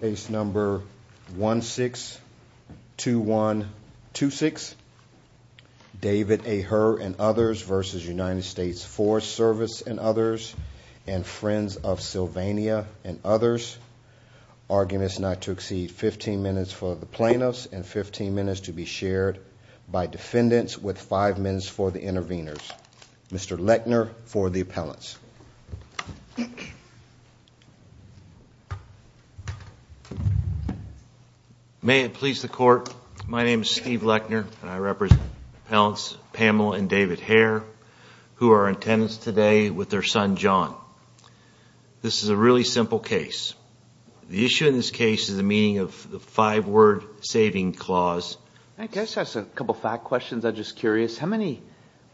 Case number 162126. David A. Herr and others versus United States Forest Service and others and Friends of Sylvania and others. Arguments not to exceed 15 minutes for the plaintiffs and 15 minutes to be shared by defendants with five minutes for the intervenors. Mr. Lechner for the appellants. May it please the court. My name is Steve Lechner and I represent appellants Pamela and David Herr who are in attendance today with their son John. This is a really simple case. The issue in this case is the meaning of the five questions. I'm just curious how many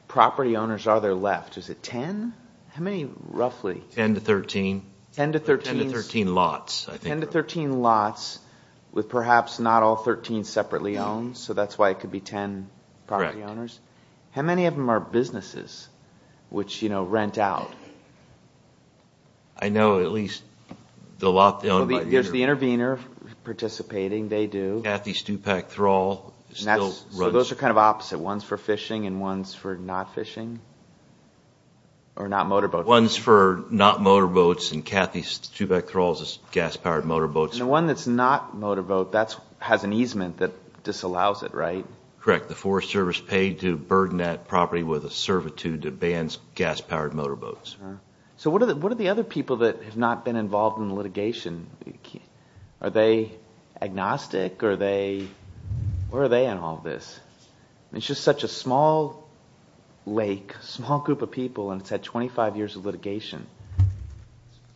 property owners are there left? Is it 10? How many roughly? 10 to 13. 10 to 13. 10 to 13 lots. 10 to 13 lots with perhaps not all 13 separately owned so that's why it could be 10 property owners. How many of them are businesses which you know rent out? I know at least the lot. There's the kind of opposite. One's for fishing and one's for not fishing or not motorboats. One's for not motorboats and Kathy Stubeck Thrall's gas-powered motorboats. The one that's not motorboat that's has an easement that disallows it, right? Correct. The Forest Service paid to burden that property with a servitude that bans gas-powered motorboats. So what are the other people that have not been involved in litigation? Are they agnostic? Where are they in all this? It's just such a small lake, small group of people and it's had 25 years of litigation.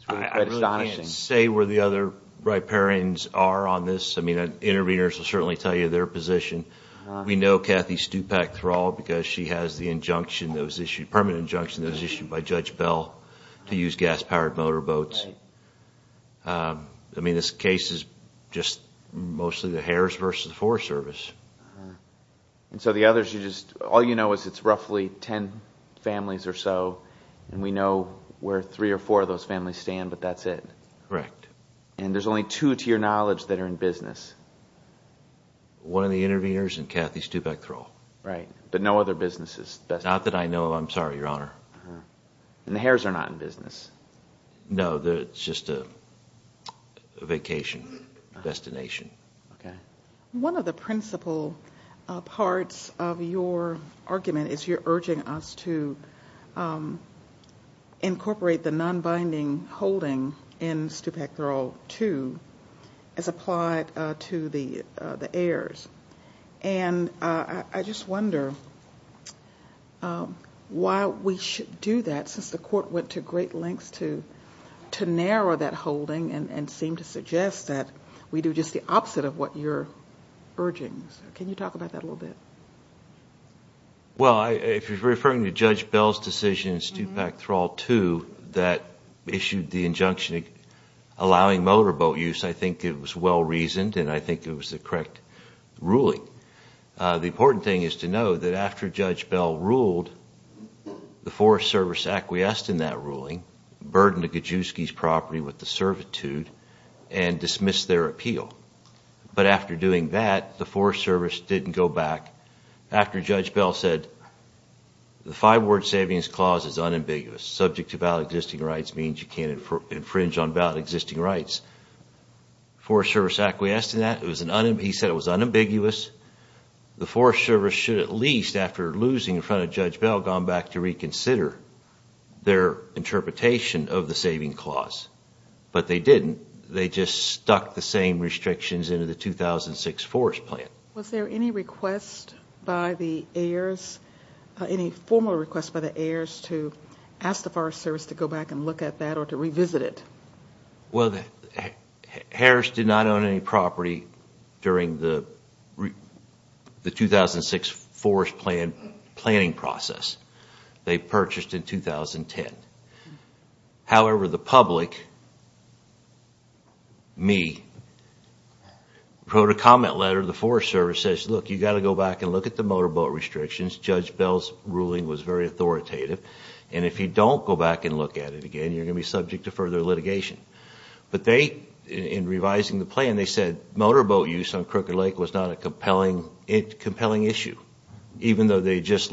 I can't say where the other riparians are on this. I mean interveners will certainly tell you their position. We know Kathy Stubeck Thrall because she has the injunction that was issued, permanent injunction that was issued by Judge Bell to use gas-powered motorboats. I mean this case is just mostly the Hares versus the Forest Service. And so the others you just all you know is it's roughly ten families or so and we know where three or four of those families stand but that's it? Correct. And there's only two to your knowledge that are in business? One of the interveners and Kathy Stubeck Thrall. Right, but no other businesses? Not that I know of, I'm sorry your honor. And the vacation destination. Okay. One of the principal parts of your argument is you're urging us to incorporate the non-binding holding in Stubeck Thrall too as applied to the the heirs. And I just wonder why we should do that since the non-binding holding and seem to suggest that we do just the opposite of what you're urging. Can you talk about that a little bit? Well, if you're referring to Judge Bell's decision in Stubeck Thrall too that issued the injunction allowing motorboat use, I think it was well reasoned and I think it was the correct ruling. The important thing is to know that after Judge Bell ruled, the Forest Service acquiesced to Gajewski's property with the servitude and dismissed their appeal. But after doing that, the Forest Service didn't go back. After Judge Bell said the five-word savings clause is unambiguous. Subject to valid existing rights means you can't infringe on valid existing rights. The Forest Service acquiesced to that. He said it was unambiguous. The Forest Service should at least, after losing in front of Judge Bell, gone back to reconsider their interpretation of the five-word saving clause. But they didn't. They just stuck the same restrictions into the 2006 Forest Plan. Was there any request by the heirs, any formal request by the heirs to ask the Forest Service to go back and look at that or to revisit it? Well, Harris did not own any property during the 2006 Forest Plan planning process. They purchased in 2010. However, the public, me, wrote a comment letter to the Forest Service, says, look, you've got to go back and look at the motorboat restrictions. Judge Bell's ruling was very authoritative and if you don't go back and look at it again, you're going to be subject to further litigation. But they, in revising the plan, they said motorboat use on Crooked Lake was not a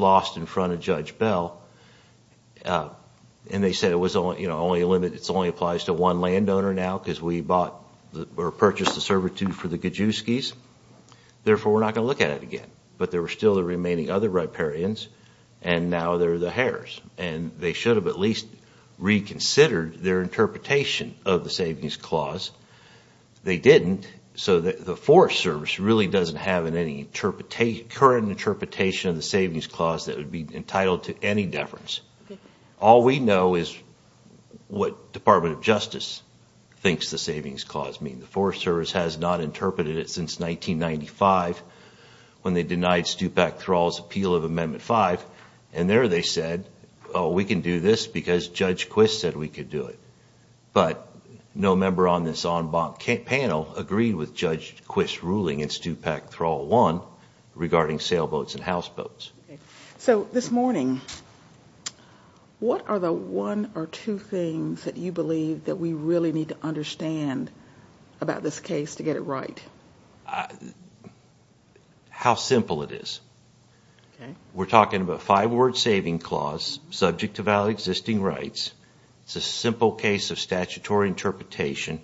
loss in front of Judge Bell. And they said it only applies to one landowner now because we purchased the servitude for the Gajewskis. Therefore, we're not going to look at it again. But there were still the remaining other riparians and now they're the heirs. And they should have at least reconsidered their interpretation of the savings clause. They didn't. So the Forest Service really doesn't have any current interpretation of the savings clause that would be entitled to any deference. All we know is what Department of Justice thinks the savings clause means. The Forest Service has not interpreted it since 1995 when they denied Stupak Thrall's appeal of Amendment 5. And there they said, oh, we can do this because Judge Quist said we could do it. But no member on this panel agreed with Judge Quist's ruling in Stupak Thrall 1 regarding sailboats and houseboats. So this morning, what are the one or two things that you believe that we really need to understand about this case to get it right? How simple it is. We're talking about five-word saving clause subject to valid existing rights. It's a simple case of statutory interpretation.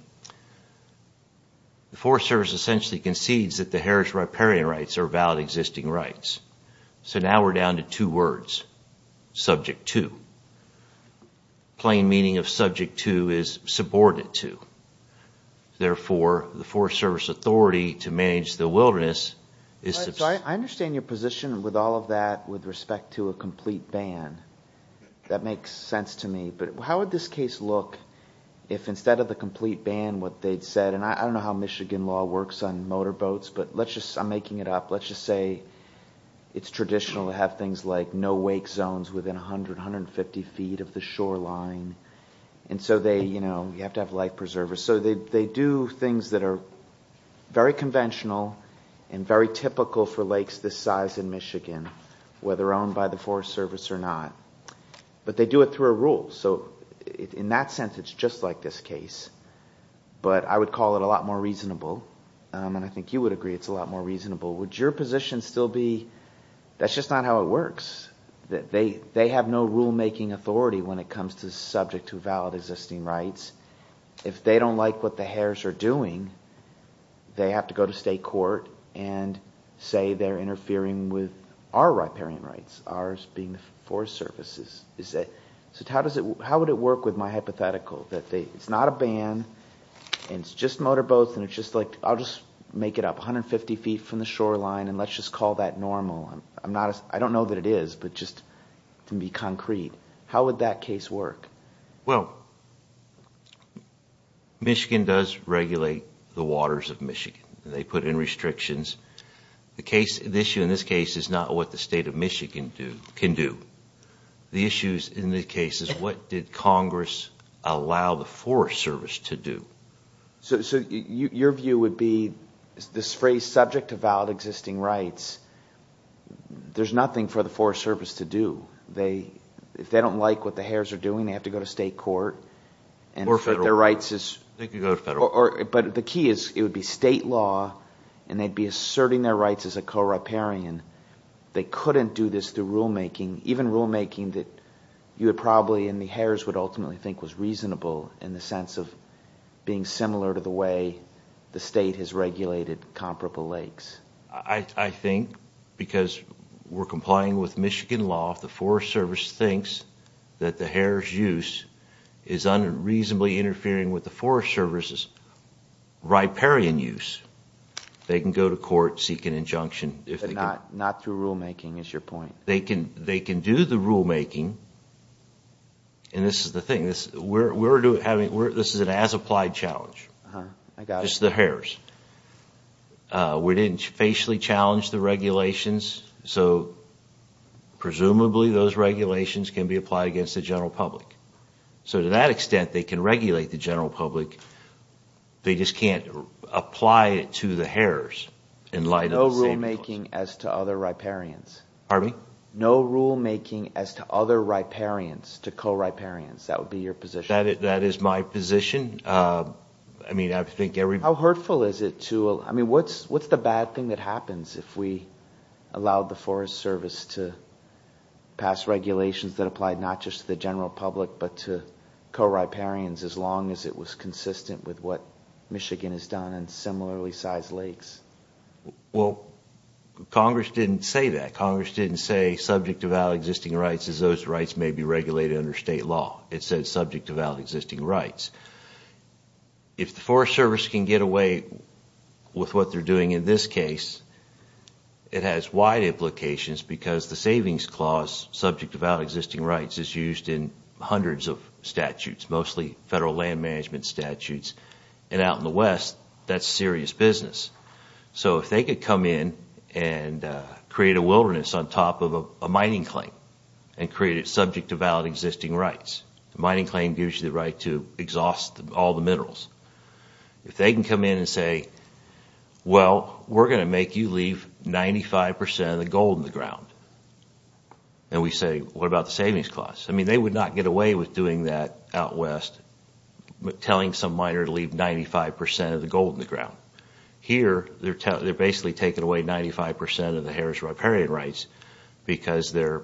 The Forest Service essentially concedes that the heirs' riparian rights are valid existing rights. So now we're down to two words, subject to. Plain meaning of subject to is subordinate to. Therefore, the Forest Service authority to manage the wilderness is... I understand your position with all of that with respect to a but how would this case look if instead of the complete ban what they'd said, and I don't know how Michigan law works on motorboats, but let's just... I'm making it up. Let's just say it's traditional to have things like no wake zones within 100, 150 feet of the shoreline. And so they, you know, you have to have life preservers. So they do things that are very conventional and very typical for lakes this size in Michigan, whether owned by the Forest Service or not. But they do it through a rule. So in that sense, it's just like this case. But I would call it a lot more reasonable. And I think you would agree it's a lot more reasonable. Would your position still be that's just not how it works? That they they have no rulemaking authority when it comes to subject to valid existing rights. If they don't like what the heirs are doing, they have to go to state court and say they're interfering with our riparian rights. Ours being the Forest Service. How would it work with my hypothetical? That it's not a ban and it's just motorboats and it's just like I'll just make it up 150 feet from the shoreline and let's just call that normal. I don't know that it is, but just to be concrete. How would that case work? Well, Michigan does regulate the waters of Michigan. They put in restrictions. The issue in this case is not what the state of Michigan can do. The issue in this case is what did Congress allow the Forest Service to do? So your view would be this phrase subject to valid existing rights. There's nothing for the Forest Service to do. If they don't like what the heirs are doing, they have to go to state court. Or federal. But the key is it would be state law and they'd be asserting their rights as a co-riparian. They couldn't do this through rulemaking. Even rulemaking that you would probably and the heirs would ultimately think was reasonable in the sense of being similar to the way the state has regulated comparable lakes. I think because we're complying with Michigan law, if the Forest Service thinks that the heirs use is unreasonably interfering with the Forest Service's riparian use, they can go to court, seek an injunction. But not through rulemaking is your point. They can do the rulemaking, and this is the thing, this is an as applied challenge. Just the heirs. We didn't facially challenge the regulations, so presumably those regulations can be applied against the general public. So to that extent they can regulate the general public, they just can't apply it to the heirs. No rulemaking as to other riparians. Pardon me? No rulemaking as to other riparians, to co-riparians. That would be your position. That is my position. How hurtful is it to, I mean what's the bad thing that happens if we allow the Forest Service to pass regulations that apply not just to the general public, but to co-riparians as long as it was consistent with what Michigan has done and similarly sized lakes? Well, Congress didn't say that. Congress didn't say subject to valid existing rights as those rights may be regulated under state law. It said subject to valid existing rights. If the Forest Service can get away with what they're doing in this case, it has wide implications because the savings clause subject to valid existing rights is used in hundreds of statutes, mostly federal land management statutes, and out in the West that's serious business. So if they could come in and create a wilderness on top of a mining claim and create it subject to valid existing rights, the mining claim gives you the right to exhaust all the minerals. If they can come in and say, well we're going to make you leave 95% of the gold in the ground, and we say what about the savings clause? I mean they would not get away with doing that out West, telling some miner to leave 95% of the gold in the ground. Here they're basically taking away 95% of the Harris riparian rights because their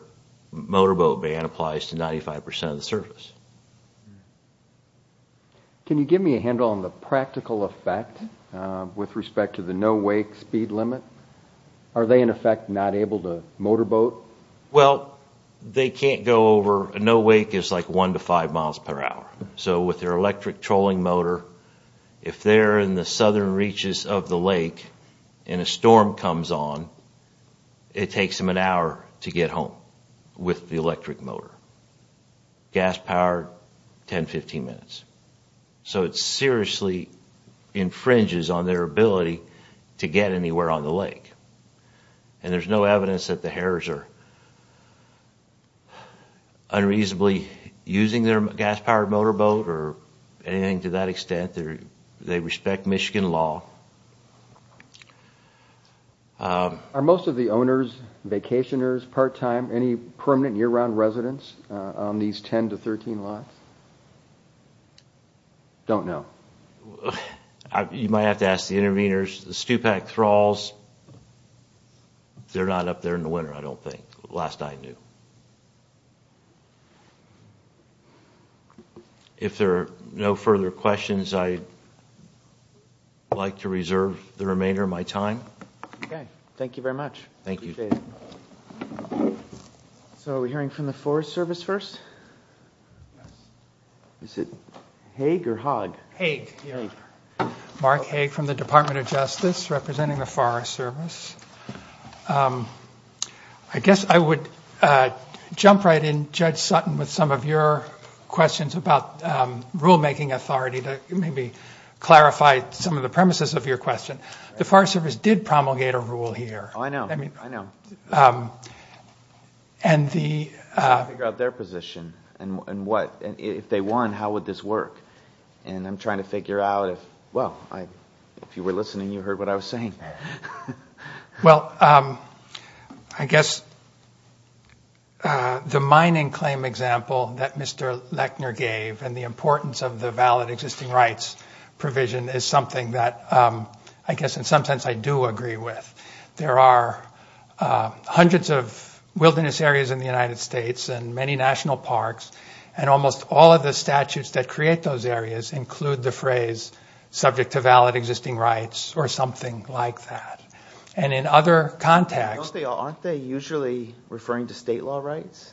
motorboat ban applies to 95% of the service. Can you give me a handle on the practical effect with respect to the no wake speed limit? Are they in effect not able to motorboat? Well they can't go over, no wake is like one to five miles per hour, so with their electric trolling motor, if they're in the southern reaches of the lake and a storm comes on, it takes them an hour to get home with the electric motor. Gas-powered, 10-15 minutes. So it seriously infringes on their ability to get anywhere on the lake, and there's no evidence that the Harris are unreasonably using their gas-powered motorboat or anything to that extent. They respect Michigan law. Are most of the owners vacationers, part-time, any permanent year-round residents on these 10 to 13 lots? Don't know. You might have to ask the interveners. The stupak thralls, they're not up there in the winter, I don't think. Last I knew. If there are no further questions, I'd like to So we're hearing from the Forest Service first. Is it Haig or Hogg? Haig. Mark Haig from the Department of Justice representing the Forest Service. I guess I would jump right in, Judge Sutton, with some of your questions about rulemaking authority to maybe clarify some of the premises of your question. The Forest Service did figure out their position, and if they won, how would this work? And I'm trying to figure out if, well, if you were listening, you heard what I was saying. Well, I guess the mining claim example that Mr. Lechner gave and the importance of the valid existing rights provision is something that I guess in some sense I do agree with. There are hundreds of wilderness areas in the United States and many national parks, and almost all of the statutes that create those areas include the phrase subject to valid existing rights or something like that. And in other contexts... Aren't they usually referring to state law rights?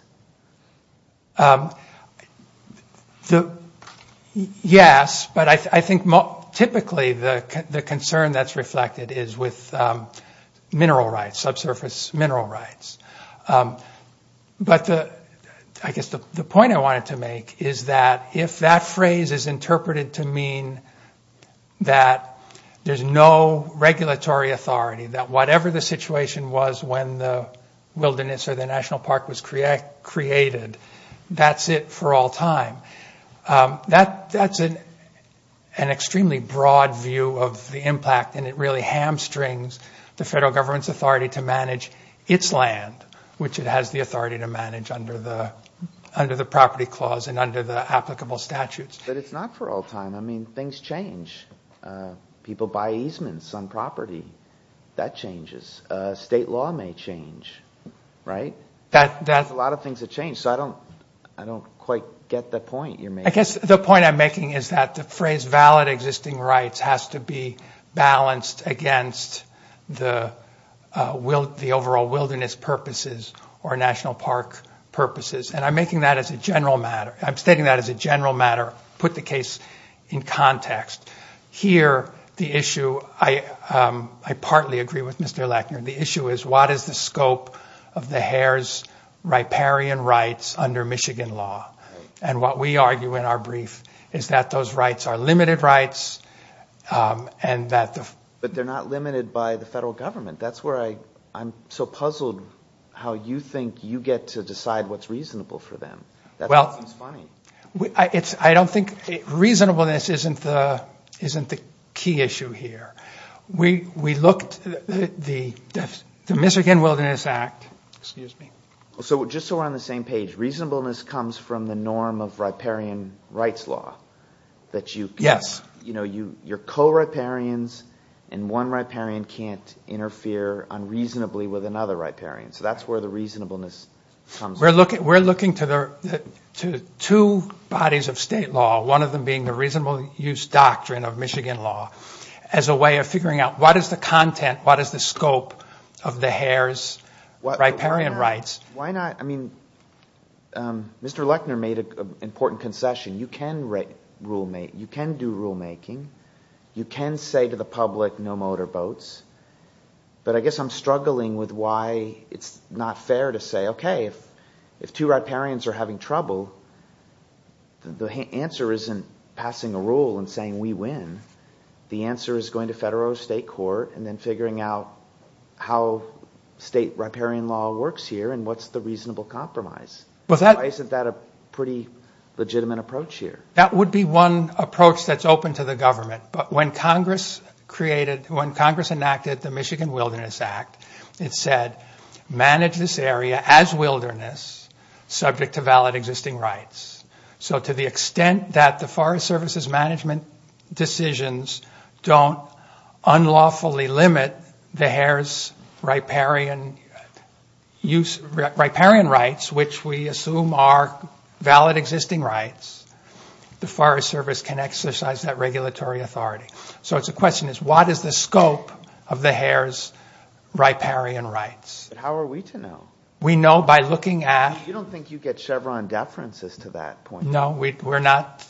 Yes, but I think typically the concern that's But I guess the point I wanted to make is that if that phrase is interpreted to mean that there's no regulatory authority, that whatever the situation was when the wilderness or the national park was created, that's it for all time. That's an extremely broad view of the impact, and it really hamstrings the federal government's authority to manage its land, which it has the authority to manage under the property clause and under the applicable statutes. But it's not for all time. I mean, things change. People buy easements on property. That changes. State law may change, right? A lot of things have changed, so I don't quite get the point you're making. I guess the point I'm making is that the phrase valid existing rights has to be balanced against the overall wilderness purposes or national park purposes, and I'm making that as a general matter. I'm stating that as a general matter. Put the case in context. Here, the issue... I partly agree with Mr. Lechner. The issue is, what is the scope of the Hare's riparian rights under Michigan law? And what we argue in our brief is that those rights are limited rights and that the they're not limited by the federal government. That's where I'm so puzzled how you think you get to decide what's reasonable for them. Well, I don't think reasonableness isn't the key issue here. We looked at the Michigan Wilderness Act. Excuse me. So just so we're on the same page, reasonableness comes from the norm of riparian rights law. Yes. You know, you're co-riparians and one riparian can't interfere unreasonably with another riparian. So that's where the reasonableness comes from. We're looking to two bodies of state law, one of them being the reasonable use doctrine of Michigan law, as a way of figuring out what is the content, what is the scope of the Hare's riparian rights. Why not? I mean, Mr. Lechner made an important concession. You can do rulemaking. You can say to the public no motorboats. But I guess I'm struggling with why it's not fair to say okay, if two riparians are having trouble, the answer isn't passing a rule and saying we win. The answer is going to federal or state court and then figuring out how state riparian law works here and what's the reasonable compromise. Isn't that a pretty legitimate approach here? That would be one approach that's open to the government. But when Congress created, when Congress enacted the Michigan Wilderness Act, it said manage this area as wilderness, subject to valid existing rights. So to the extent that the Forest Service's management decisions don't unlawfully limit the Hare's riparian rights, which we assume are valid existing rights, the Forest Service can exercise that regulatory authority. So it's a question is what is the scope of the Hare's riparian rights? But how are we to know? We know by looking at... You don't think you get Chevron deferences to that point? No, we're not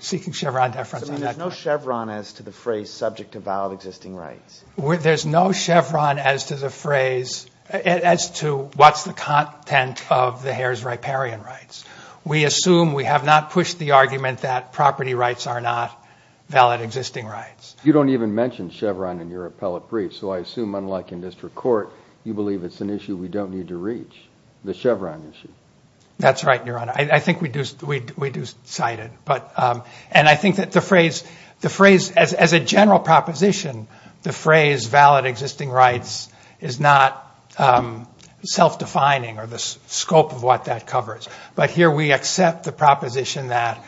seeking Chevron deference. So there's no Chevron as to the phrase subject to valid existing rights? There's no Chevron as to the phrase, as to what's the content of the Hare's riparian rights. We assume, we have not pushed the argument that property rights are not valid existing rights. You don't even mention Chevron in your appellate brief. So I assume, unlike in district court, you believe it's an issue we don't need to reach, the Chevron issue. That's right, Your Honor. I think we do cite it. And I think that the phrase, as a general proposition, the phrase valid existing rights is not self-defining or the scope of what that covers. But here we accept the proposition that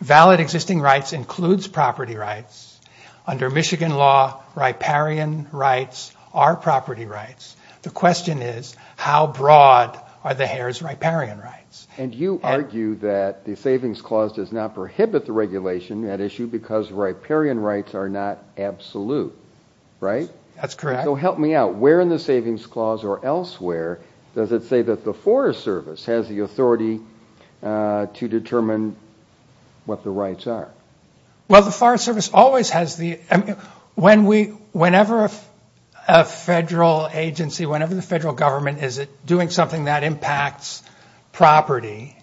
valid existing rights includes property rights. Under Michigan law, riparian rights are not absolute. So how broad are the Hare's riparian rights? And you argue that the Savings Clause does not prohibit the regulation, that issue, because riparian rights are not absolute, right? That's correct. So help me out. Where in the Savings Clause or elsewhere does it say that the Forest Service has the authority to determine what the rights are? Well, the Forest Service always has the... Whenever a federal agency, whenever the federal agency is doing something that impacts property,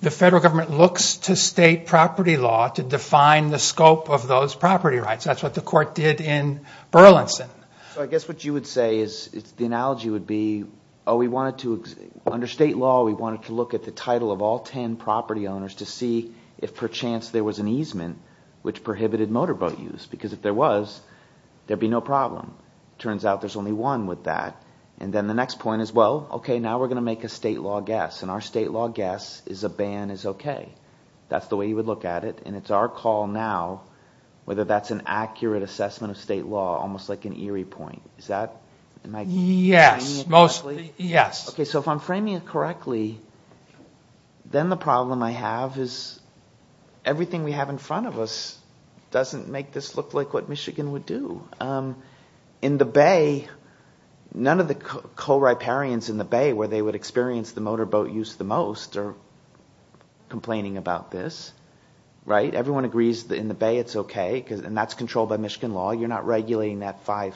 the federal government looks to state property law to define the scope of those property rights. That's what the court did in Burlington. So I guess what you would say is, the analogy would be, oh, we wanted to, under state law, we wanted to look at the title of all ten property owners to see if, perchance, there was an easement which prohibited motorboat use. Because if there was, there'd be no problem. Turns out there's only one with that. And then the next point is, well, okay, now we're going to make a state law guess. And our state law guess is a ban is okay. That's the way you would look at it. And it's our call now, whether that's an accurate assessment of state law, almost like an eerie point. Is that... Yes, mostly, yes. Okay, so if I'm framing it correctly, then the problem I have is, everything we have in front of us doesn't make this look like what Michigan would do. In the Bay, none of the co-riparians in the Bay where they would experience the motorboat use the most are complaining about this. Right? Everyone agrees that in the Bay it's okay, and that's controlled by Michigan law. You're not regulating that 5%.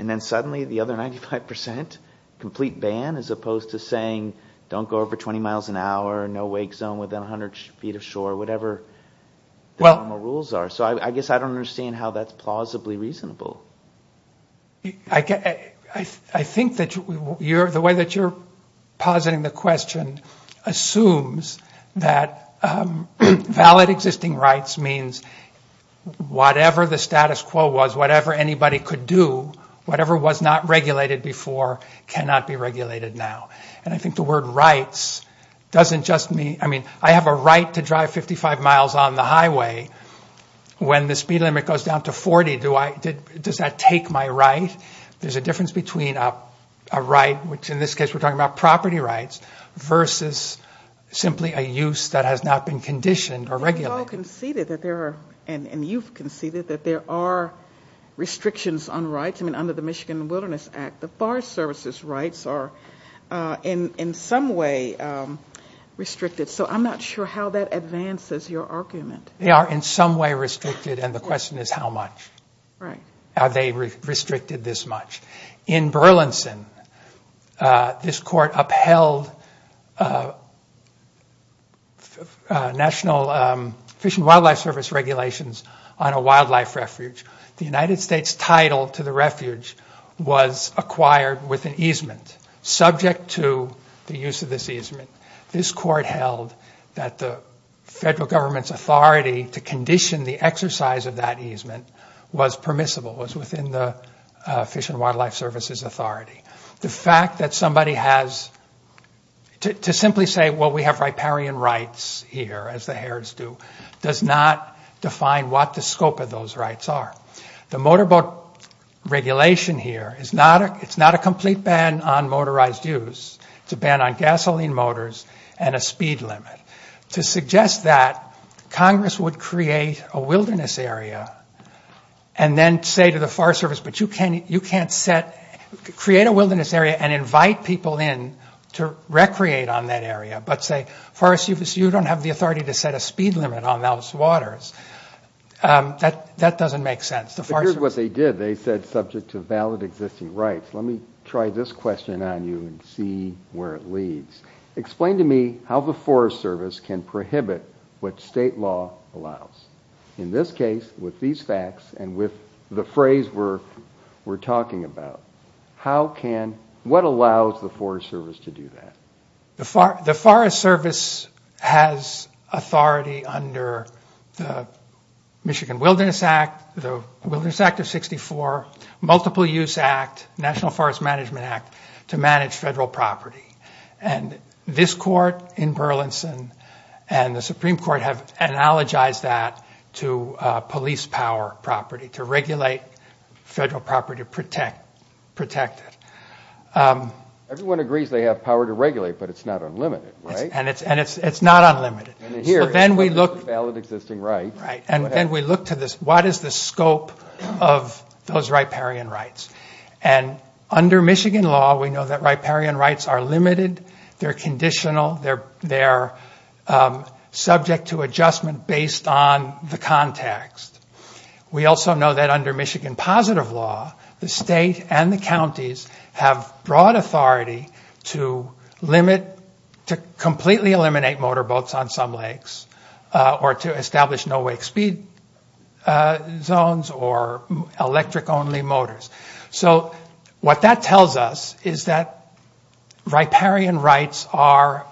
And then suddenly the other 95% complete ban, as opposed to saying, don't go over 20 miles an hour, no wake zone within 100 feet of shore, or whatever the normal rules are. So I guess I don't understand how that's plausibly reasonable. I think that the way that you're positing the question assumes that valid existing rights means whatever the status quo was, whatever anybody could do, whatever was not regulated before cannot be regulated now. And I think the word right to drive 55 miles on the highway, when the speed limit goes down to 40, does that take my right? There's a difference between a right, which in this case we're talking about property rights, versus simply a use that has not been conditioned or regulated. And you've conceded that there are restrictions on rights. I mean, under the Michigan Wilderness Act, the Forest Service's rights are in some way restricted. So I'm not sure how that advances your argument. They are in some way restricted, and the question is how much? Right. Are they restricted this much? In Burlington, this court upheld National Fish and Wildlife Service regulations on a wildlife refuge. The United States title to the refuge was acquired with an easement, subject to the use of this property. This court held that the federal government's authority to condition the exercise of that easement was permissible, was within the Fish and Wildlife Service's authority. The fact that somebody has, to simply say, well, we have riparian rights here, as the Harrods do, does not define what the scope of those rights are. The motorboat regulation here, it's not a complete ban on motorized use. It's a ban on gasoline motors and a speed limit. To suggest that, Congress would create a wilderness area, and then say to the Forest Service, but you can't set, create a wilderness area and invite people in to recreate on that area. But say, Forest Service, you don't have the authority to set a speed limit on those waters. That doesn't make sense. But here's what they did. They said subject to valid existing rights. Let me try this question on you and see where it leads. Explain to me how the Forest Service can prohibit what state law allows. In this case, with these facts and with the phrase we're talking about, how can, what allows the Forest Service to do that? The Forest Service has authority under the Michigan Wilderness Act, the Forest Management Act, to manage federal property. And this court in Burlington and the Supreme Court have analogized that to police power property, to regulate federal property to protect it. Everyone agrees they have power to regulate, but it's not unlimited, right? And it's not unlimited. And here is what is a valid existing right. Right. And then we look to this, what is the scope of those riparian rights? And under Michigan law, we know that riparian rights are limited, they're conditional, they're subject to adjustment based on the context. We also know that under Michigan positive law, the state and the counties have broad authority to limit, to completely eliminate motorboats on some lakes or to establish no wake speed zones or electric only motors. So what that tells us is that riparian rights are,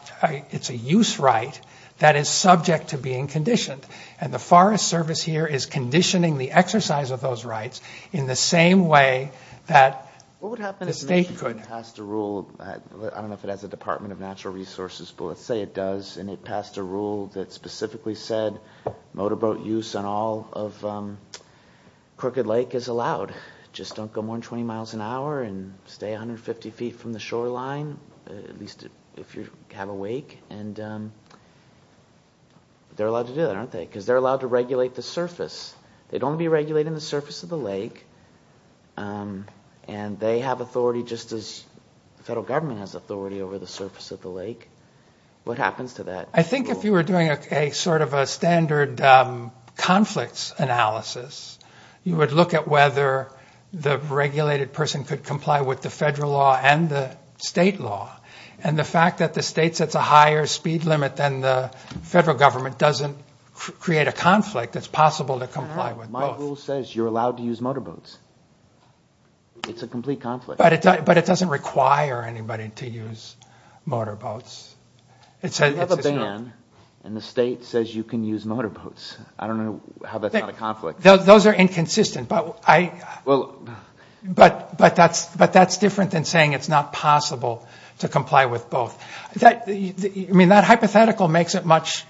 it's a use right that is subject to being conditioned. And the Forest Service here is conditioning the exercise of those rights in the same way that the state could. What would happen if Michigan passed a rule, I don't know if it has a Department of Natural Resources, but let's say it does, and it passed a rule that specifically said motorboat use on all of Crooked Lake is allowed. Just don't go more than 20 miles an hour and stay 150 feet from the shoreline, at least if you have a wake. And they're allowed to do that, aren't they? Because they're allowed to regulate the surface. They'd only be regulating the surface of the lake and they have authority just as the federal government has authority over the surface of the lake. What happens to that? I think if you were doing a sort of a standard conflicts analysis, you would look at whether the regulated person could comply with the federal law and the state law. And the fact that the state sets a higher speed limit than the federal government doesn't create a conflict that's possible to comply with. My rule says you're allowed to use motorboats. It's a complete conflict. But it doesn't require anybody to use motorboats. You have a ban and the state says you can use motorboats. I don't know how that's not a conflict. Those are inconsistent. But that's different than saying it's not possible to comply with both. I mean, that hypothetical makes it much,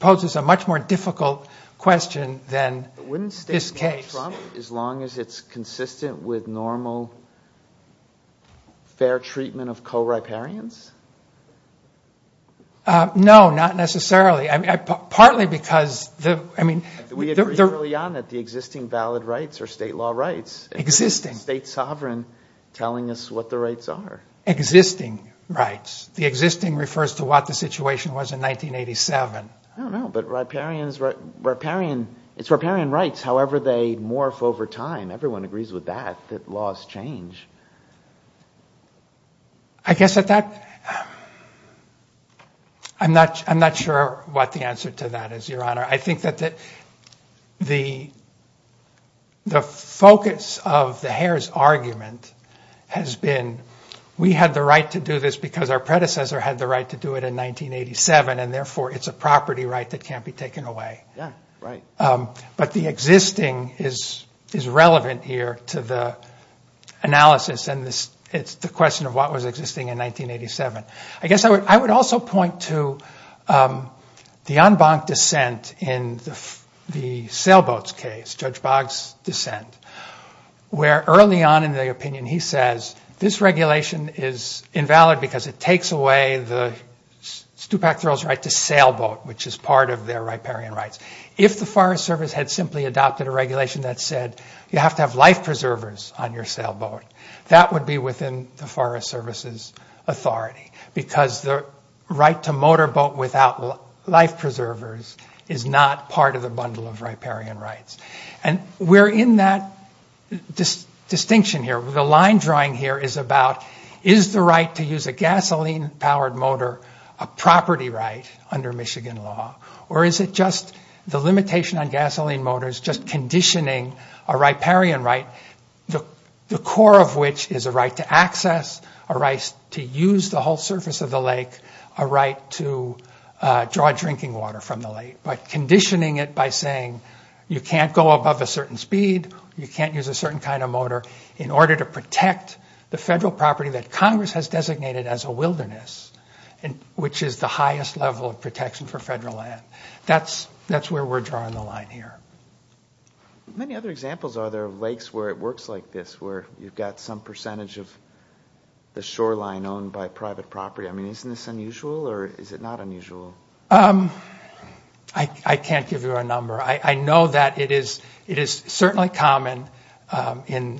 poses a much more difficult question than this case. Wouldn't the state need Trump as long as it's consistent with normal fair treatment of co-riparians? No, not necessarily. Partly because the... We agree early on that the existing valid rights are state law rights. Existing. State sovereign telling us what the rights are. Existing rights. The existing refers to what the situation was in 1987. I don't know. But it's riparian rights. However, they morph over time. Everyone agrees with that, that laws change. I guess at that... I'm not sure what the answer to that is, Your Honor. I think that the focus of the Hare's argument has been, we had the right to do this because our predecessor had the right to do it in 1987 and therefore it's a property right that can't be taken away. Yeah, right. But the existing is relevant here to the analysis of the process and it's the question of what was existing in 1987. I guess I would also point to the en banc dissent in the sailboat's case, Judge Boggs' dissent, where early on in the opinion he says, this regulation is invalid because it takes away the Stupak Thoreau's right to sailboat, which is part of their riparian rights. If the Forest Service had simply adopted a regulation that said, you have to have life preservers on your sailboat, that would be within the Forest Service's authority because the right to motorboat without life preservers is not part of the bundle of riparian rights. We're in that distinction here. The line drawing here is about, is the right to use a gasoline powered motor a property right under Michigan law or is it just the limitation on gasoline motors just conditioning a riparian right, the core of which is a right to access, a right to use the whole surface of the lake, a right to draw drinking water from the lake, but conditioning it by saying, you can't go above a certain speed, you can't use a certain kind of motor in order to protect the federal property that Congress has designated as a wilderness, which is the highest level of protection for federal land. That's where we're drawing the line here. Many other examples are there of lakes where it works like this, where you've got some percentage of the shoreline owned by private property. I mean, isn't this unusual or is it not unusual? I can't give you a number. I know that it is certainly common in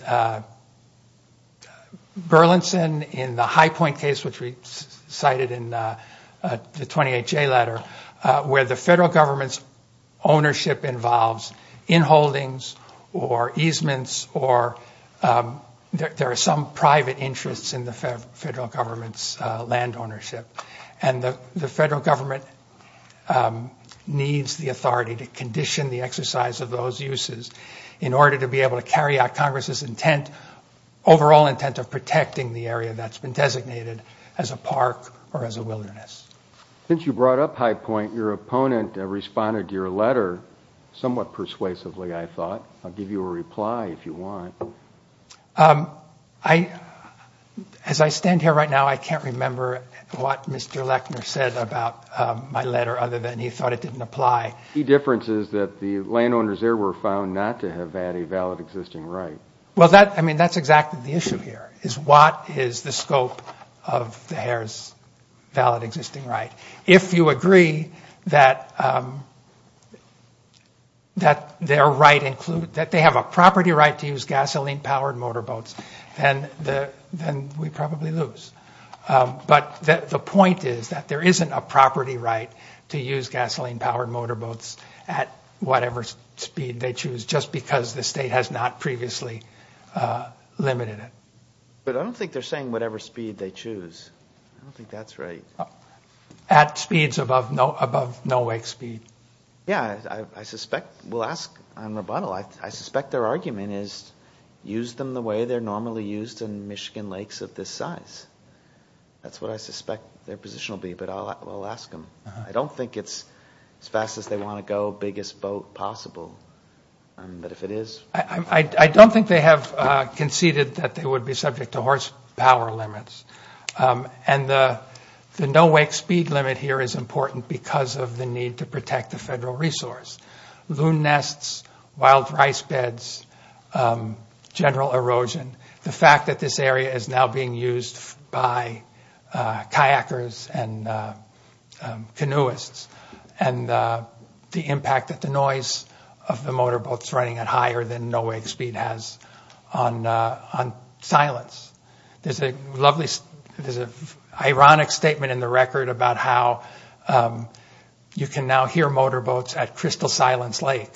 Burlington, in the High Point case, which we cited in the 28J letter, where the federal government's ownership involves in-holdings or easements or there are some private interests in the federal government's land ownership. And the federal government needs the authority to condition the exercise of those uses in order to be able to carry out Congress's intent, overall intent of protecting the area that's been designated as a park or as a wilderness. Since you brought up High Point, your opponent responded to your letter somewhat persuasively, I thought. I'll give you a reply if you want. As I stand here right now, I can't remember what Mr. Lechner said about my letter other than he thought it didn't apply. The difference is that the landowners there were found not to have had a valid existing right. Well, I mean, that's exactly the issue here, is what is the scope of the Harrah's valid existing right? If you agree that they have a property right to use gasoline powered motorboats, then we probably lose. But the point is that there isn't a property right to use gasoline powered motorboats at whatever speed they choose just because the state has not previously limited it. But I don't think they're saying whatever speed they choose. I don't think that's right. At speeds above no wake speed. Yeah, I suspect, we'll ask on rebuttal, I suspect their argument is use them the way they're normally used in Michigan lakes of this size. That's what I suspect their position will be, but I'll ask them. I don't think it's as fast as they want to go, the biggest boat possible. But if it is. I don't think they have conceded that they would be subject to horsepower limits. And the no wake speed limit here is important because of the need to protect the federal resource. Loon nests, wild rice beds, general erosion, the fact that this area is now being used by kayakers and canoeists and the impact that the noise of the motorboats running at higher than no wake speed has on silence. There's a lovely, there's an ironic statement in the record about how you can now hear motorboats at Crystal Silence Lake,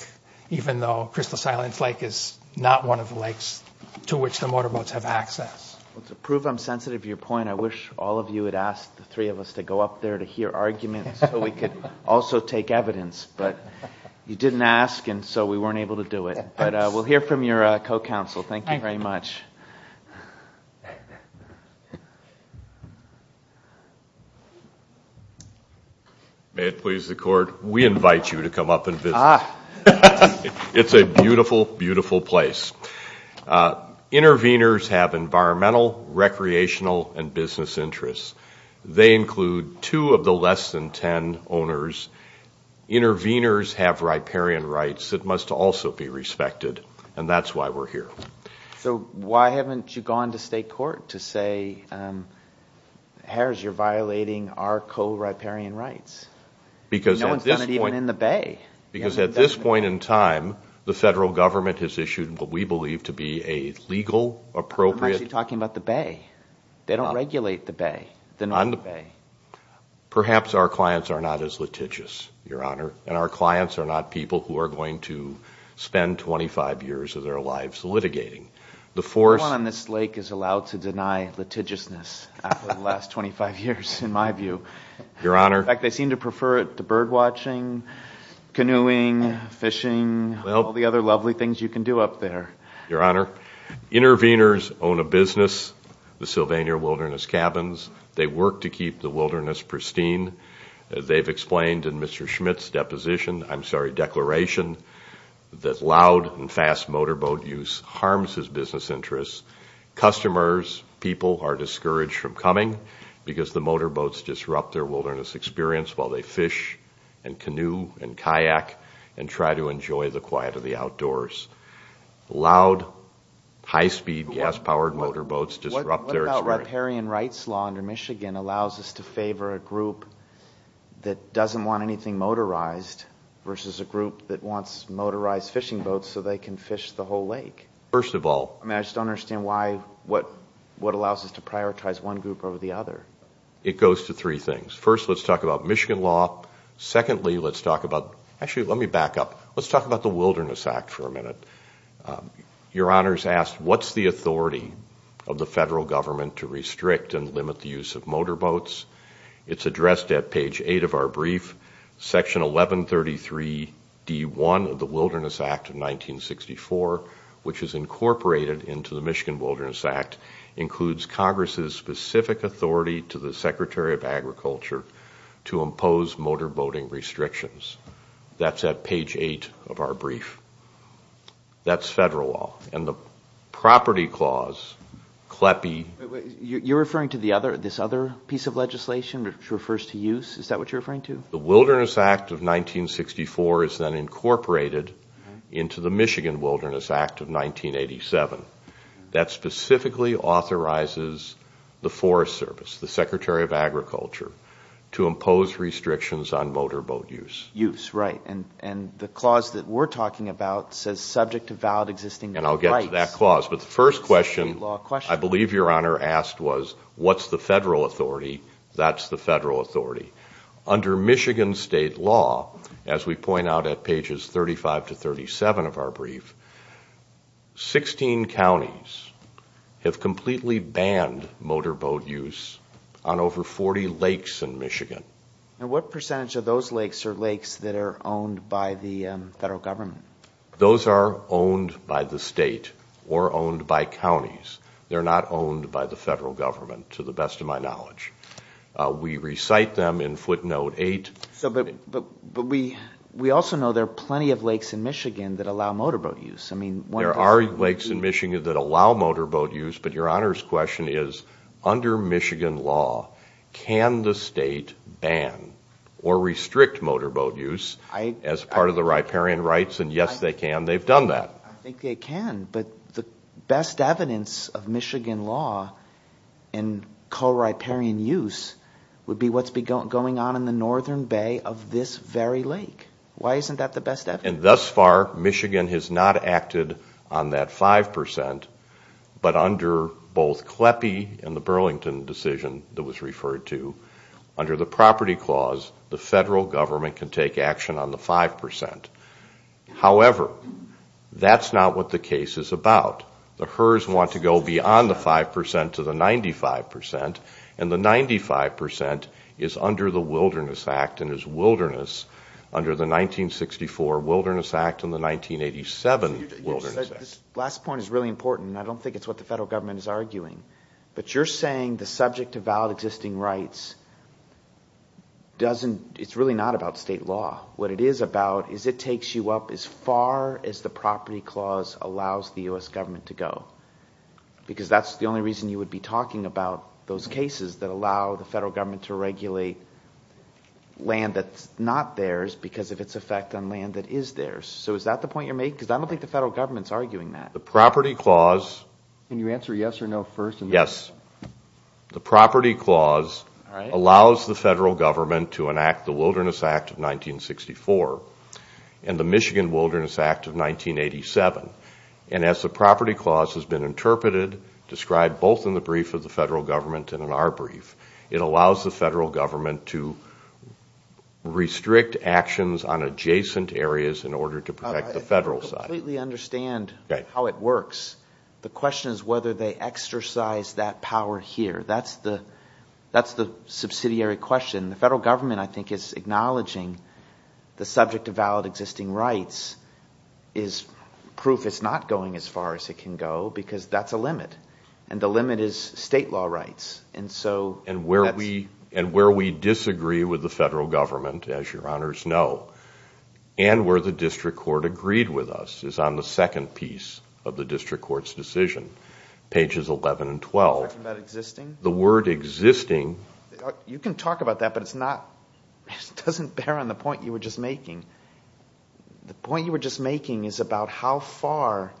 even though Crystal Silence Lake is not one of the lakes to which the motorboats have access. To prove I'm sensitive to your point, I wish all of you had asked the three of us to go up there to hear arguments so we could also take evidence. But you didn't ask and so we weren't able to do it. But we'll hear from your co-counsel. Thank you very much. May it please the court, we invite you to come up and visit. It's a beautiful, beautiful place. Interveners have environmental, recreational and business interests. They include two of the less than ten owners. Interveners have riparian rights that must also be respected and that's why we're here. So why haven't you gone to state court to say Harris, you're violating our co-riparian rights? Because at this point in time, the federal government has what we believe to be a legal, appropriate... I'm actually talking about the bay. They don't regulate the bay. Perhaps our clients are not as litigious, your honor, and our clients are not people who are going to spend 25 years of their lives litigating. No one on this lake is allowed to deny litigiousness after the last 25 years, in my view. Your honor... In fact, they seem to prefer it to bird watching, canoeing, fishing, all the other lovely things you can do up there. Your honor, Interveners own a business, the Sylvania Wilderness Cabins. They work to keep the wilderness pristine. They've explained in Mr. Schmidt's deposition, I'm sorry, declaration, that loud and fast motorboat use harms his business interests. Customers, people are discouraged from coming because the motorboats disrupt their wilderness experience while they fish and canoe and kayak and try to enjoy the quiet of the outdoors. Loud, high-speed, gas-powered motorboats disrupt their experience. What about riparian rights law under Michigan allows us to favor a group that doesn't want anything motorized versus a group that wants motorized fishing boats so they can fish the whole lake? First of all... I mean, I just don't understand why... what allows us to prioritize one group over the other. It goes to three things. First, let's talk about Michigan law. Secondly, let's talk about... Actually, let me back up. Let's talk about the Wilderness Act for a minute. Your Honor's asked, what's the authority of the federal government to restrict and limit the use of motorboats? It's addressed at page 8 of our brief. Section 1133-D1 of the Wilderness Act of 1964, which is incorporated into the Michigan Wilderness Act, includes Congress's specific authority to the Secretary of Agriculture to impose motorboating restrictions. That's at page 8 of our brief. That's federal law. And the property clause, CLEPI... You're referring to this other piece of legislation which refers to use? Is that what you're referring to? The Wilderness Act of 1964 is then incorporated into the Michigan Wilderness Act of 1987. That specifically authorizes the Forest Service, the Secretary of Agriculture, to impose restrictions on motorboat use. Use, right. And the clause that we're talking about says subject to valid existing rights. And I'll get to that clause. But the first question I believe Your Honor asked was what's the federal authority? That's the federal authority. Under Michigan state law, as we point out at pages 35-37 of our brief, 16 counties have completely banned motorboat use on over 40 lakes in Michigan. And what percentage of those lakes are lakes that are owned by the federal government? Those are owned by the state or owned by counties. They're not owned by the federal government, to the best of my knowledge. We recite them in footnote 8. But we also know there are plenty of lakes in Michigan that allow motorboat use. There are lakes in Michigan that allow motorboat use, but Your Honor's question is, under Michigan law, can the state ban or restrict motorboat use as part of the riparian rights? And yes, they can. They've done that. I think they can. But the best evidence of Michigan law in co-riparian use would be what's going on in the northern bay of this very lake. Why isn't that the best evidence? And thus far, Michigan has not acted on that 5%, but under both CLEPI and the Burlington decision that was referred to, under the Property Clause, the federal government can take action on the 5%. However, that's not what the case is about. The Herr's want to go beyond the 5% to the 95%, and the 95% is under the Wilderness Act and the 1987 Wilderness Act. This last point is really important, and I don't think it's what the federal government is arguing. But you're saying the subject of valid existing rights doesn't... it's really not about state law. What it is about is it takes you up as far as the Property Clause allows the U.S. government to go. Because that's the only reason you would be talking about those cases that allow the federal government to regulate land that's not theirs because of its effect on land that is theirs. So is that the point you're making? Because I don't think the federal government's arguing that. The Property Clause... Can you answer yes or no first? Yes. The Property Clause allows the federal government to enact the Wilderness Act of 1964 and the Michigan Wilderness Act of 1987. And as the Property Clause has been interpreted, described both in the brief of the federal government and in our brief, it allows the federal government to restrict actions on adjacent areas in order to protect the federal side. I completely understand how it works. The question is whether they exercise that power here. That's the subsidiary question. The federal government, I think, is acknowledging the subject of valid existing rights is proof it's not going as far as it can go because that's a limit. And the limit is state law rights. And where we disagree with the federal government, as your honors know, and where the district court agreed with us is on the second piece of the district court's decision, pages 11 and 12. You're talking about existing? The word existing... You can talk about that, but it's not... It doesn't bear on the point you were just making. The point you were just making is about how far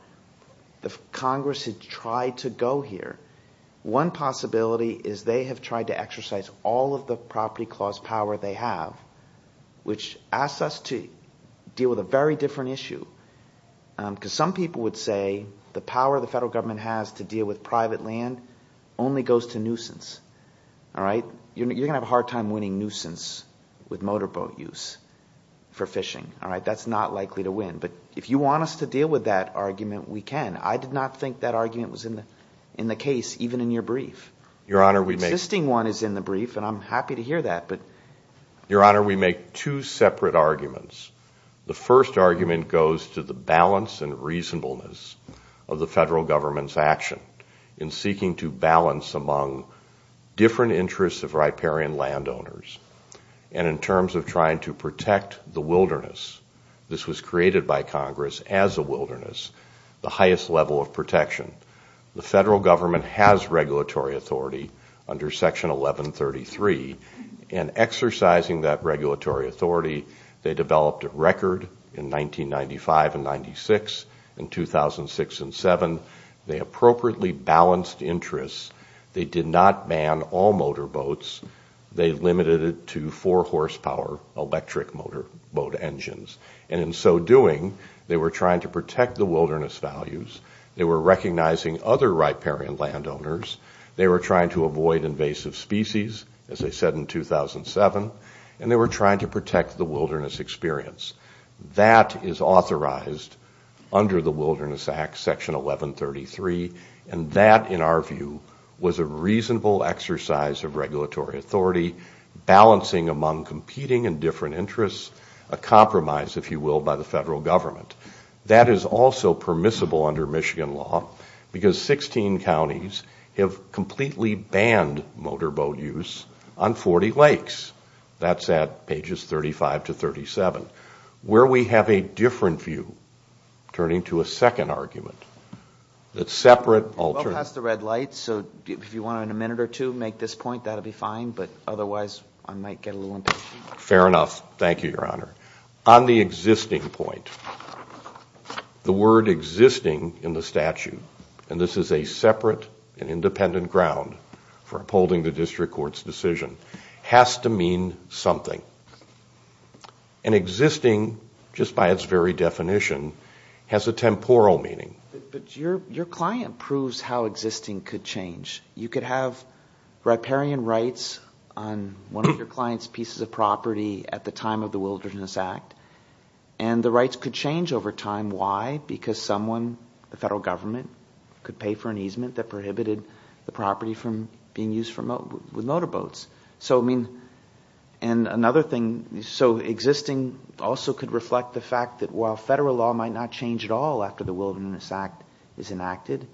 the Congress had tried to go here. One possibility is they have tried to exercise all of the property clause power they have, which asks us to deal with a very different issue. Because some people would say the power the federal government has to deal with private land only goes to nuisance. You're going to have a hard time winning nuisance with motorboat use for fishing. That's not likely to win. But if you want us to deal with that argument, we can. I did not think that argument was in the case, even in your brief. The existing one is in the brief, and I'm happy to hear that, but... Your honor, we make two separate arguments. The first argument goes to the balance and reasonableness of the federal government's action in seeking to balance among different interests of riparian landowners. And in terms of trying to protect the wilderness, this was created by Congress as a wilderness, the highest level of protection. The federal government has regulatory authority under Section 1133, and exercising that regulatory authority, they developed a record in 1995 and 1996, in 2006 and 2007. They appropriately balanced interests. They did not ban all motorboats. They limited it to 4-horsepower electric motorboat engines. And in so doing, they were trying to protect the wilderness values, they were recognizing other riparian landowners, they were trying to avoid invasive species, as they said in 2007, and they were trying to protect the wilderness experience. That is authorized under the Wilderness Act, Section 1133, and that, in our view, was a reasonable exercise of regulatory authority, balancing among competing and different interests, a compromise, if you will, by the federal government. That is also permissible under Michigan law, because 16 counties have completely banned motorboat use on 40 lakes. That's at pages 35 to 37, where we have a different view, turning to a second argument, that's separate, alternate. We're well past the red light, so if you want to, in a minute or two, make this point, that'll be fine, but otherwise I might get a little impatient. Fair enough, thank you, Your Honor. On the existing point, the word existing in the statute, and this is a separate and independent ground for upholding the district court's decision, has to mean something. And existing, just by its very definition, has a temporal meaning. But your client proves how existing could change. You could have riparian rights on one of your client's pieces of property at the time of the Wilderness Act, and the rights could change over time. Why? Because someone, the federal government, could pay for an easement that prohibited the property from being used with motorboats. So, I mean, and another thing, so existing also could reflect the fact that while federal law might not change at all after the Wilderness Act is enacted,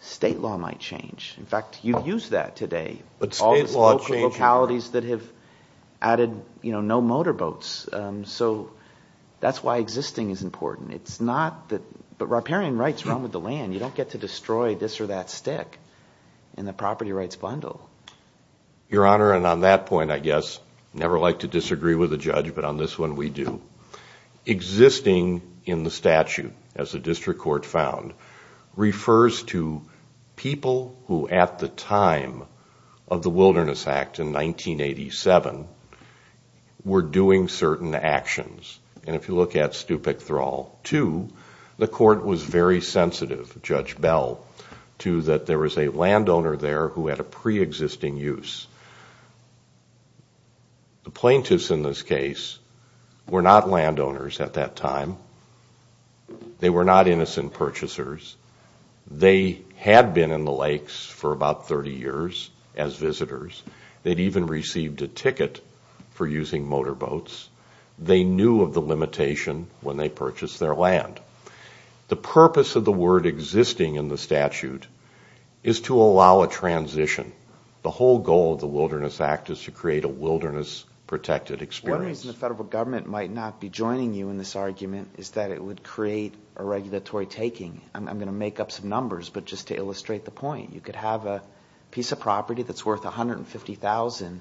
state law might change. In fact, you've used that today. But state law changed... All these local localities that have added, you know, no motorboats. So that's why existing is important. It's not that... But riparian rights run with the land. You don't get to destroy this or that stick in the property rights bundle. Your Honor, and on that point, I guess, never like to disagree with a judge, but on this one, we do. Existing in the statute, as the district court found, refers to people who at the time of the Wilderness Act in 1987 were doing certain actions. And if you look at Stupak Thrall 2, the court was very sensitive, Judge Bell, to that there was a landowner there who had a pre-existing use. The plaintiffs in this case were not landowners at that time. They were not innocent purchasers. They had been in the lakes for about 30 years as visitors. They'd even received a ticket for using motorboats. They knew of the limitation when they purchased their land. The purpose of the word existing in the statute is to allow a transition. The whole goal of the Wilderness Act is to create a wilderness-protected experience. One reason the federal government might not be joining you in this argument is that it would create a regulatory taking. I'm going to make up some numbers, but just to illustrate the point, you could have a piece of property that's worth $150,000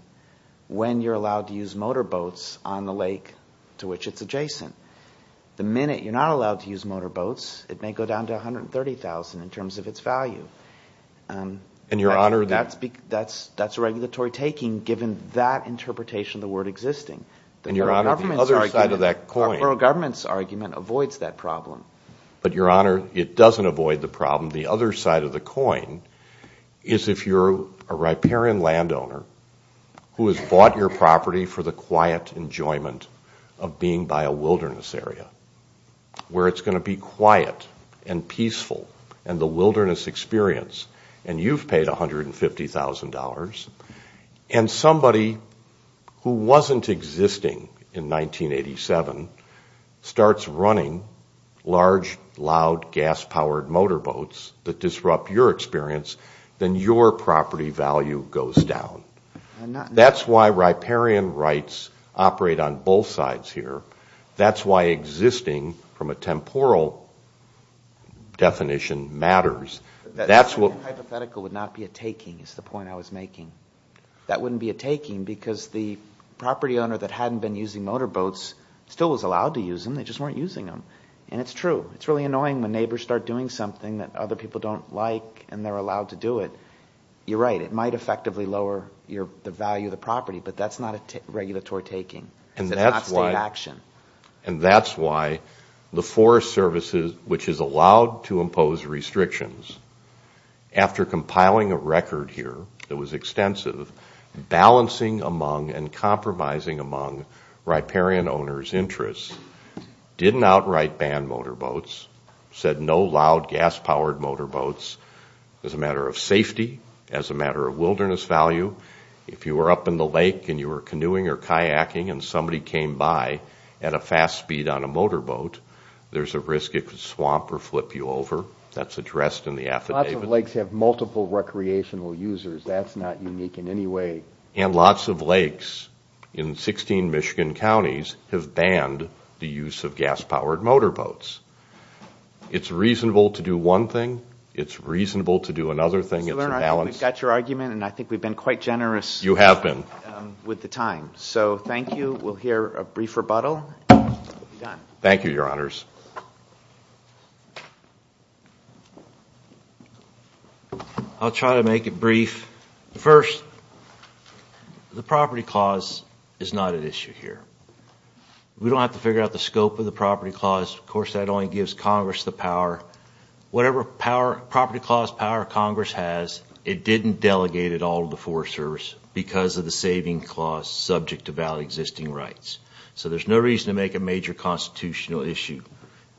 when you're allowed to use motorboats on the lake to which it's adjacent. The minute you're not allowed to use motorboats, it may go down to $130,000 in terms of its value. That's a regulatory taking given that interpretation of the word existing. And, Your Honor, the other side of that coin... Our federal government's argument avoids that problem. But, Your Honor, it doesn't avoid the problem. The other side of the coin is if you're a riparian landowner who has bought your property for the quiet enjoyment of being by a wilderness area, where it's going to be quiet and peaceful and the wilderness experience, and you've paid $150,000, and somebody who wasn't existing in 1987 starts running large, loud, gas-powered motorboats that disrupt your experience, then your property value goes down. That's why riparian rights operate on both sides here. That's why existing, from a temporal definition, matters. That's what... That hypothetical would not be a taking, is the point I was making. That wouldn't be a taking because the property owner that hadn't been using motorboats still was allowed to use them. They just weren't using them. And it's true. It's really annoying when neighbors start doing something that other people don't like and they're allowed to do it. You're right. It might effectively lower the value of the property, but that's not a regulatory taking. That's not state action. And that's why the Forest Service, which is allowed to impose restrictions, after compiling a record here that was extensive, balancing among and compromising among riparian owners' interests, didn't outright ban motorboats, said no loud, gas-powered motorboats, as a matter of safety, as a matter of wilderness value. If you were up in the lake and you were canoeing or kayaking and somebody came by at a fast speed on a motorboat, there's a risk it could swamp or flip you over. That's addressed in the affidavit. Lots of lakes have multiple recreational users. That's not unique in any way. And lots of lakes in 16 Michigan counties have banned the use of gas-powered motorboats. It's reasonable to do one thing. It's reasonable to do another thing. It's a balance. We've got your argument, and I think we've been quite generous with the time. So thank you. We'll hear a brief rebuttal. Thank you, Your Honors. I'll try to make it brief. First, the Property Clause is not at issue here. We don't have to figure out the scope of the Property Clause. Of course, that only gives Congress the power. Whatever Property Clause power Congress has, it didn't delegate it all to the Forest Service because of the saving clause subject to valid existing rights. So there's no reason to make a major constitutional issue,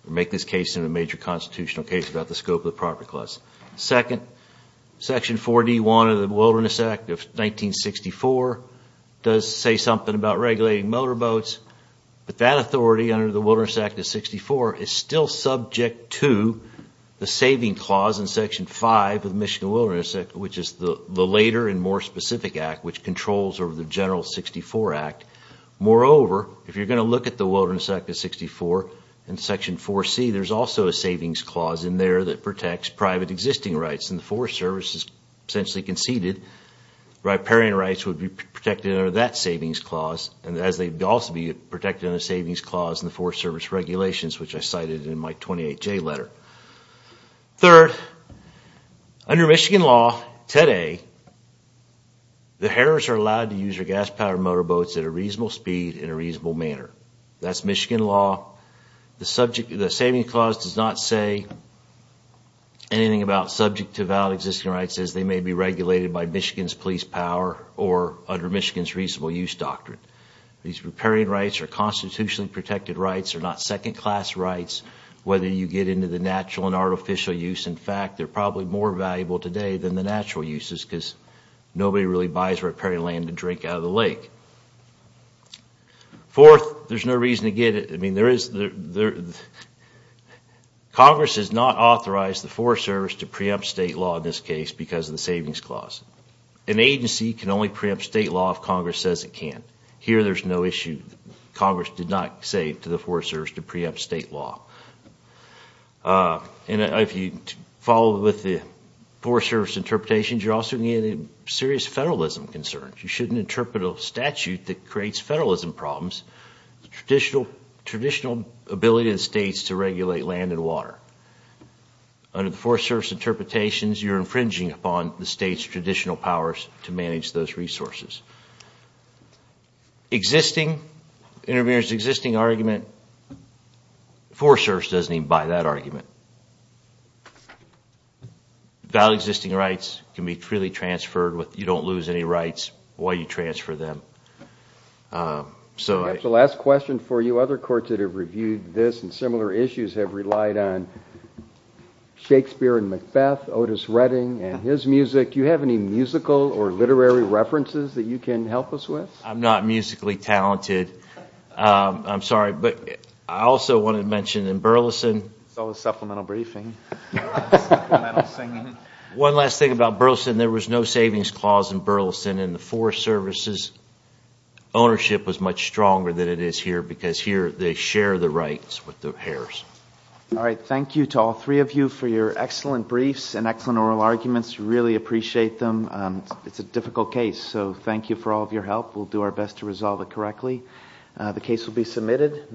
or make this case into a major constitutional case about the scope of the Property Clause. Second, Section 4D-1 of the Wilderness Act of 1964 does say something about regulating motorboats, but that authority under the Wilderness Act of 1964 is still subject to the saving clause in Section 5 of the Michigan Wilderness Act, which is the later and more specific act which controls over the General 1964 Act. Moreover, if you're going to look at the Wilderness Act of 1964 and Section 4C, there's also a savings clause in there that protects private existing rights. And the Forest Service has essentially conceded riparian rights would be protected under that savings clause, as they'd also be protected under the savings clause in the Forest Service regulations, which I cited in my 28J letter. Third, under Michigan law, today, the Harriers are allowed to use their gas-powered motorboats at a reasonable speed in a reasonable manner. That's Michigan law. The saving clause does not say anything about subject to valid existing rights as they may be regulated by Michigan's police power or under Michigan's reasonable use doctrine. These riparian rights are constitutionally protected rights. They're not second-class rights, whether you get into the natural and artificial use. In fact, they're probably more valuable today than the natural uses, because nobody really buys riparian land to drink out of the lake. Fourth, there's no reason to get it. Congress has not authorized the Forest Service to preempt state law in this case because of the savings clause. An agency can only preempt state law if Congress says it can't. Here, there's no issue. Congress did not say to the Forest Service to preempt state law. If you follow with the Forest Service interpretations, you're also getting serious federalism concerns. You shouldn't interpret a statute that creates federalism problems. Traditional ability of the states to regulate land and water. Under the Forest Service interpretations, you're infringing upon the state's ability to manage those resources. Existing argument the Forest Service doesn't even buy that argument. Valid existing rights can be freely transferred if you don't lose any rights while you transfer them. That's the last question for you. Other courts that have reviewed this and similar issues have relied on Shakespeare and Macbeth, Otis Redding and his music. Do you have any musical or literary references that you can help us with? I'm not musically talented. I'm sorry, but I also wanted to mention in Burleson Supplemental briefing. One last thing about Burleson, there was no savings clause in Burleson and the Forest Service's ownership was much stronger than it is here because here they share the rights with the heirs. Alright, thank you to all three of you for your excellent briefs and excellent oral arguments. We really appreciate them. It's a difficult case so thank you for all of your help. We'll do our best to resolve it correctly. The case will be submitted.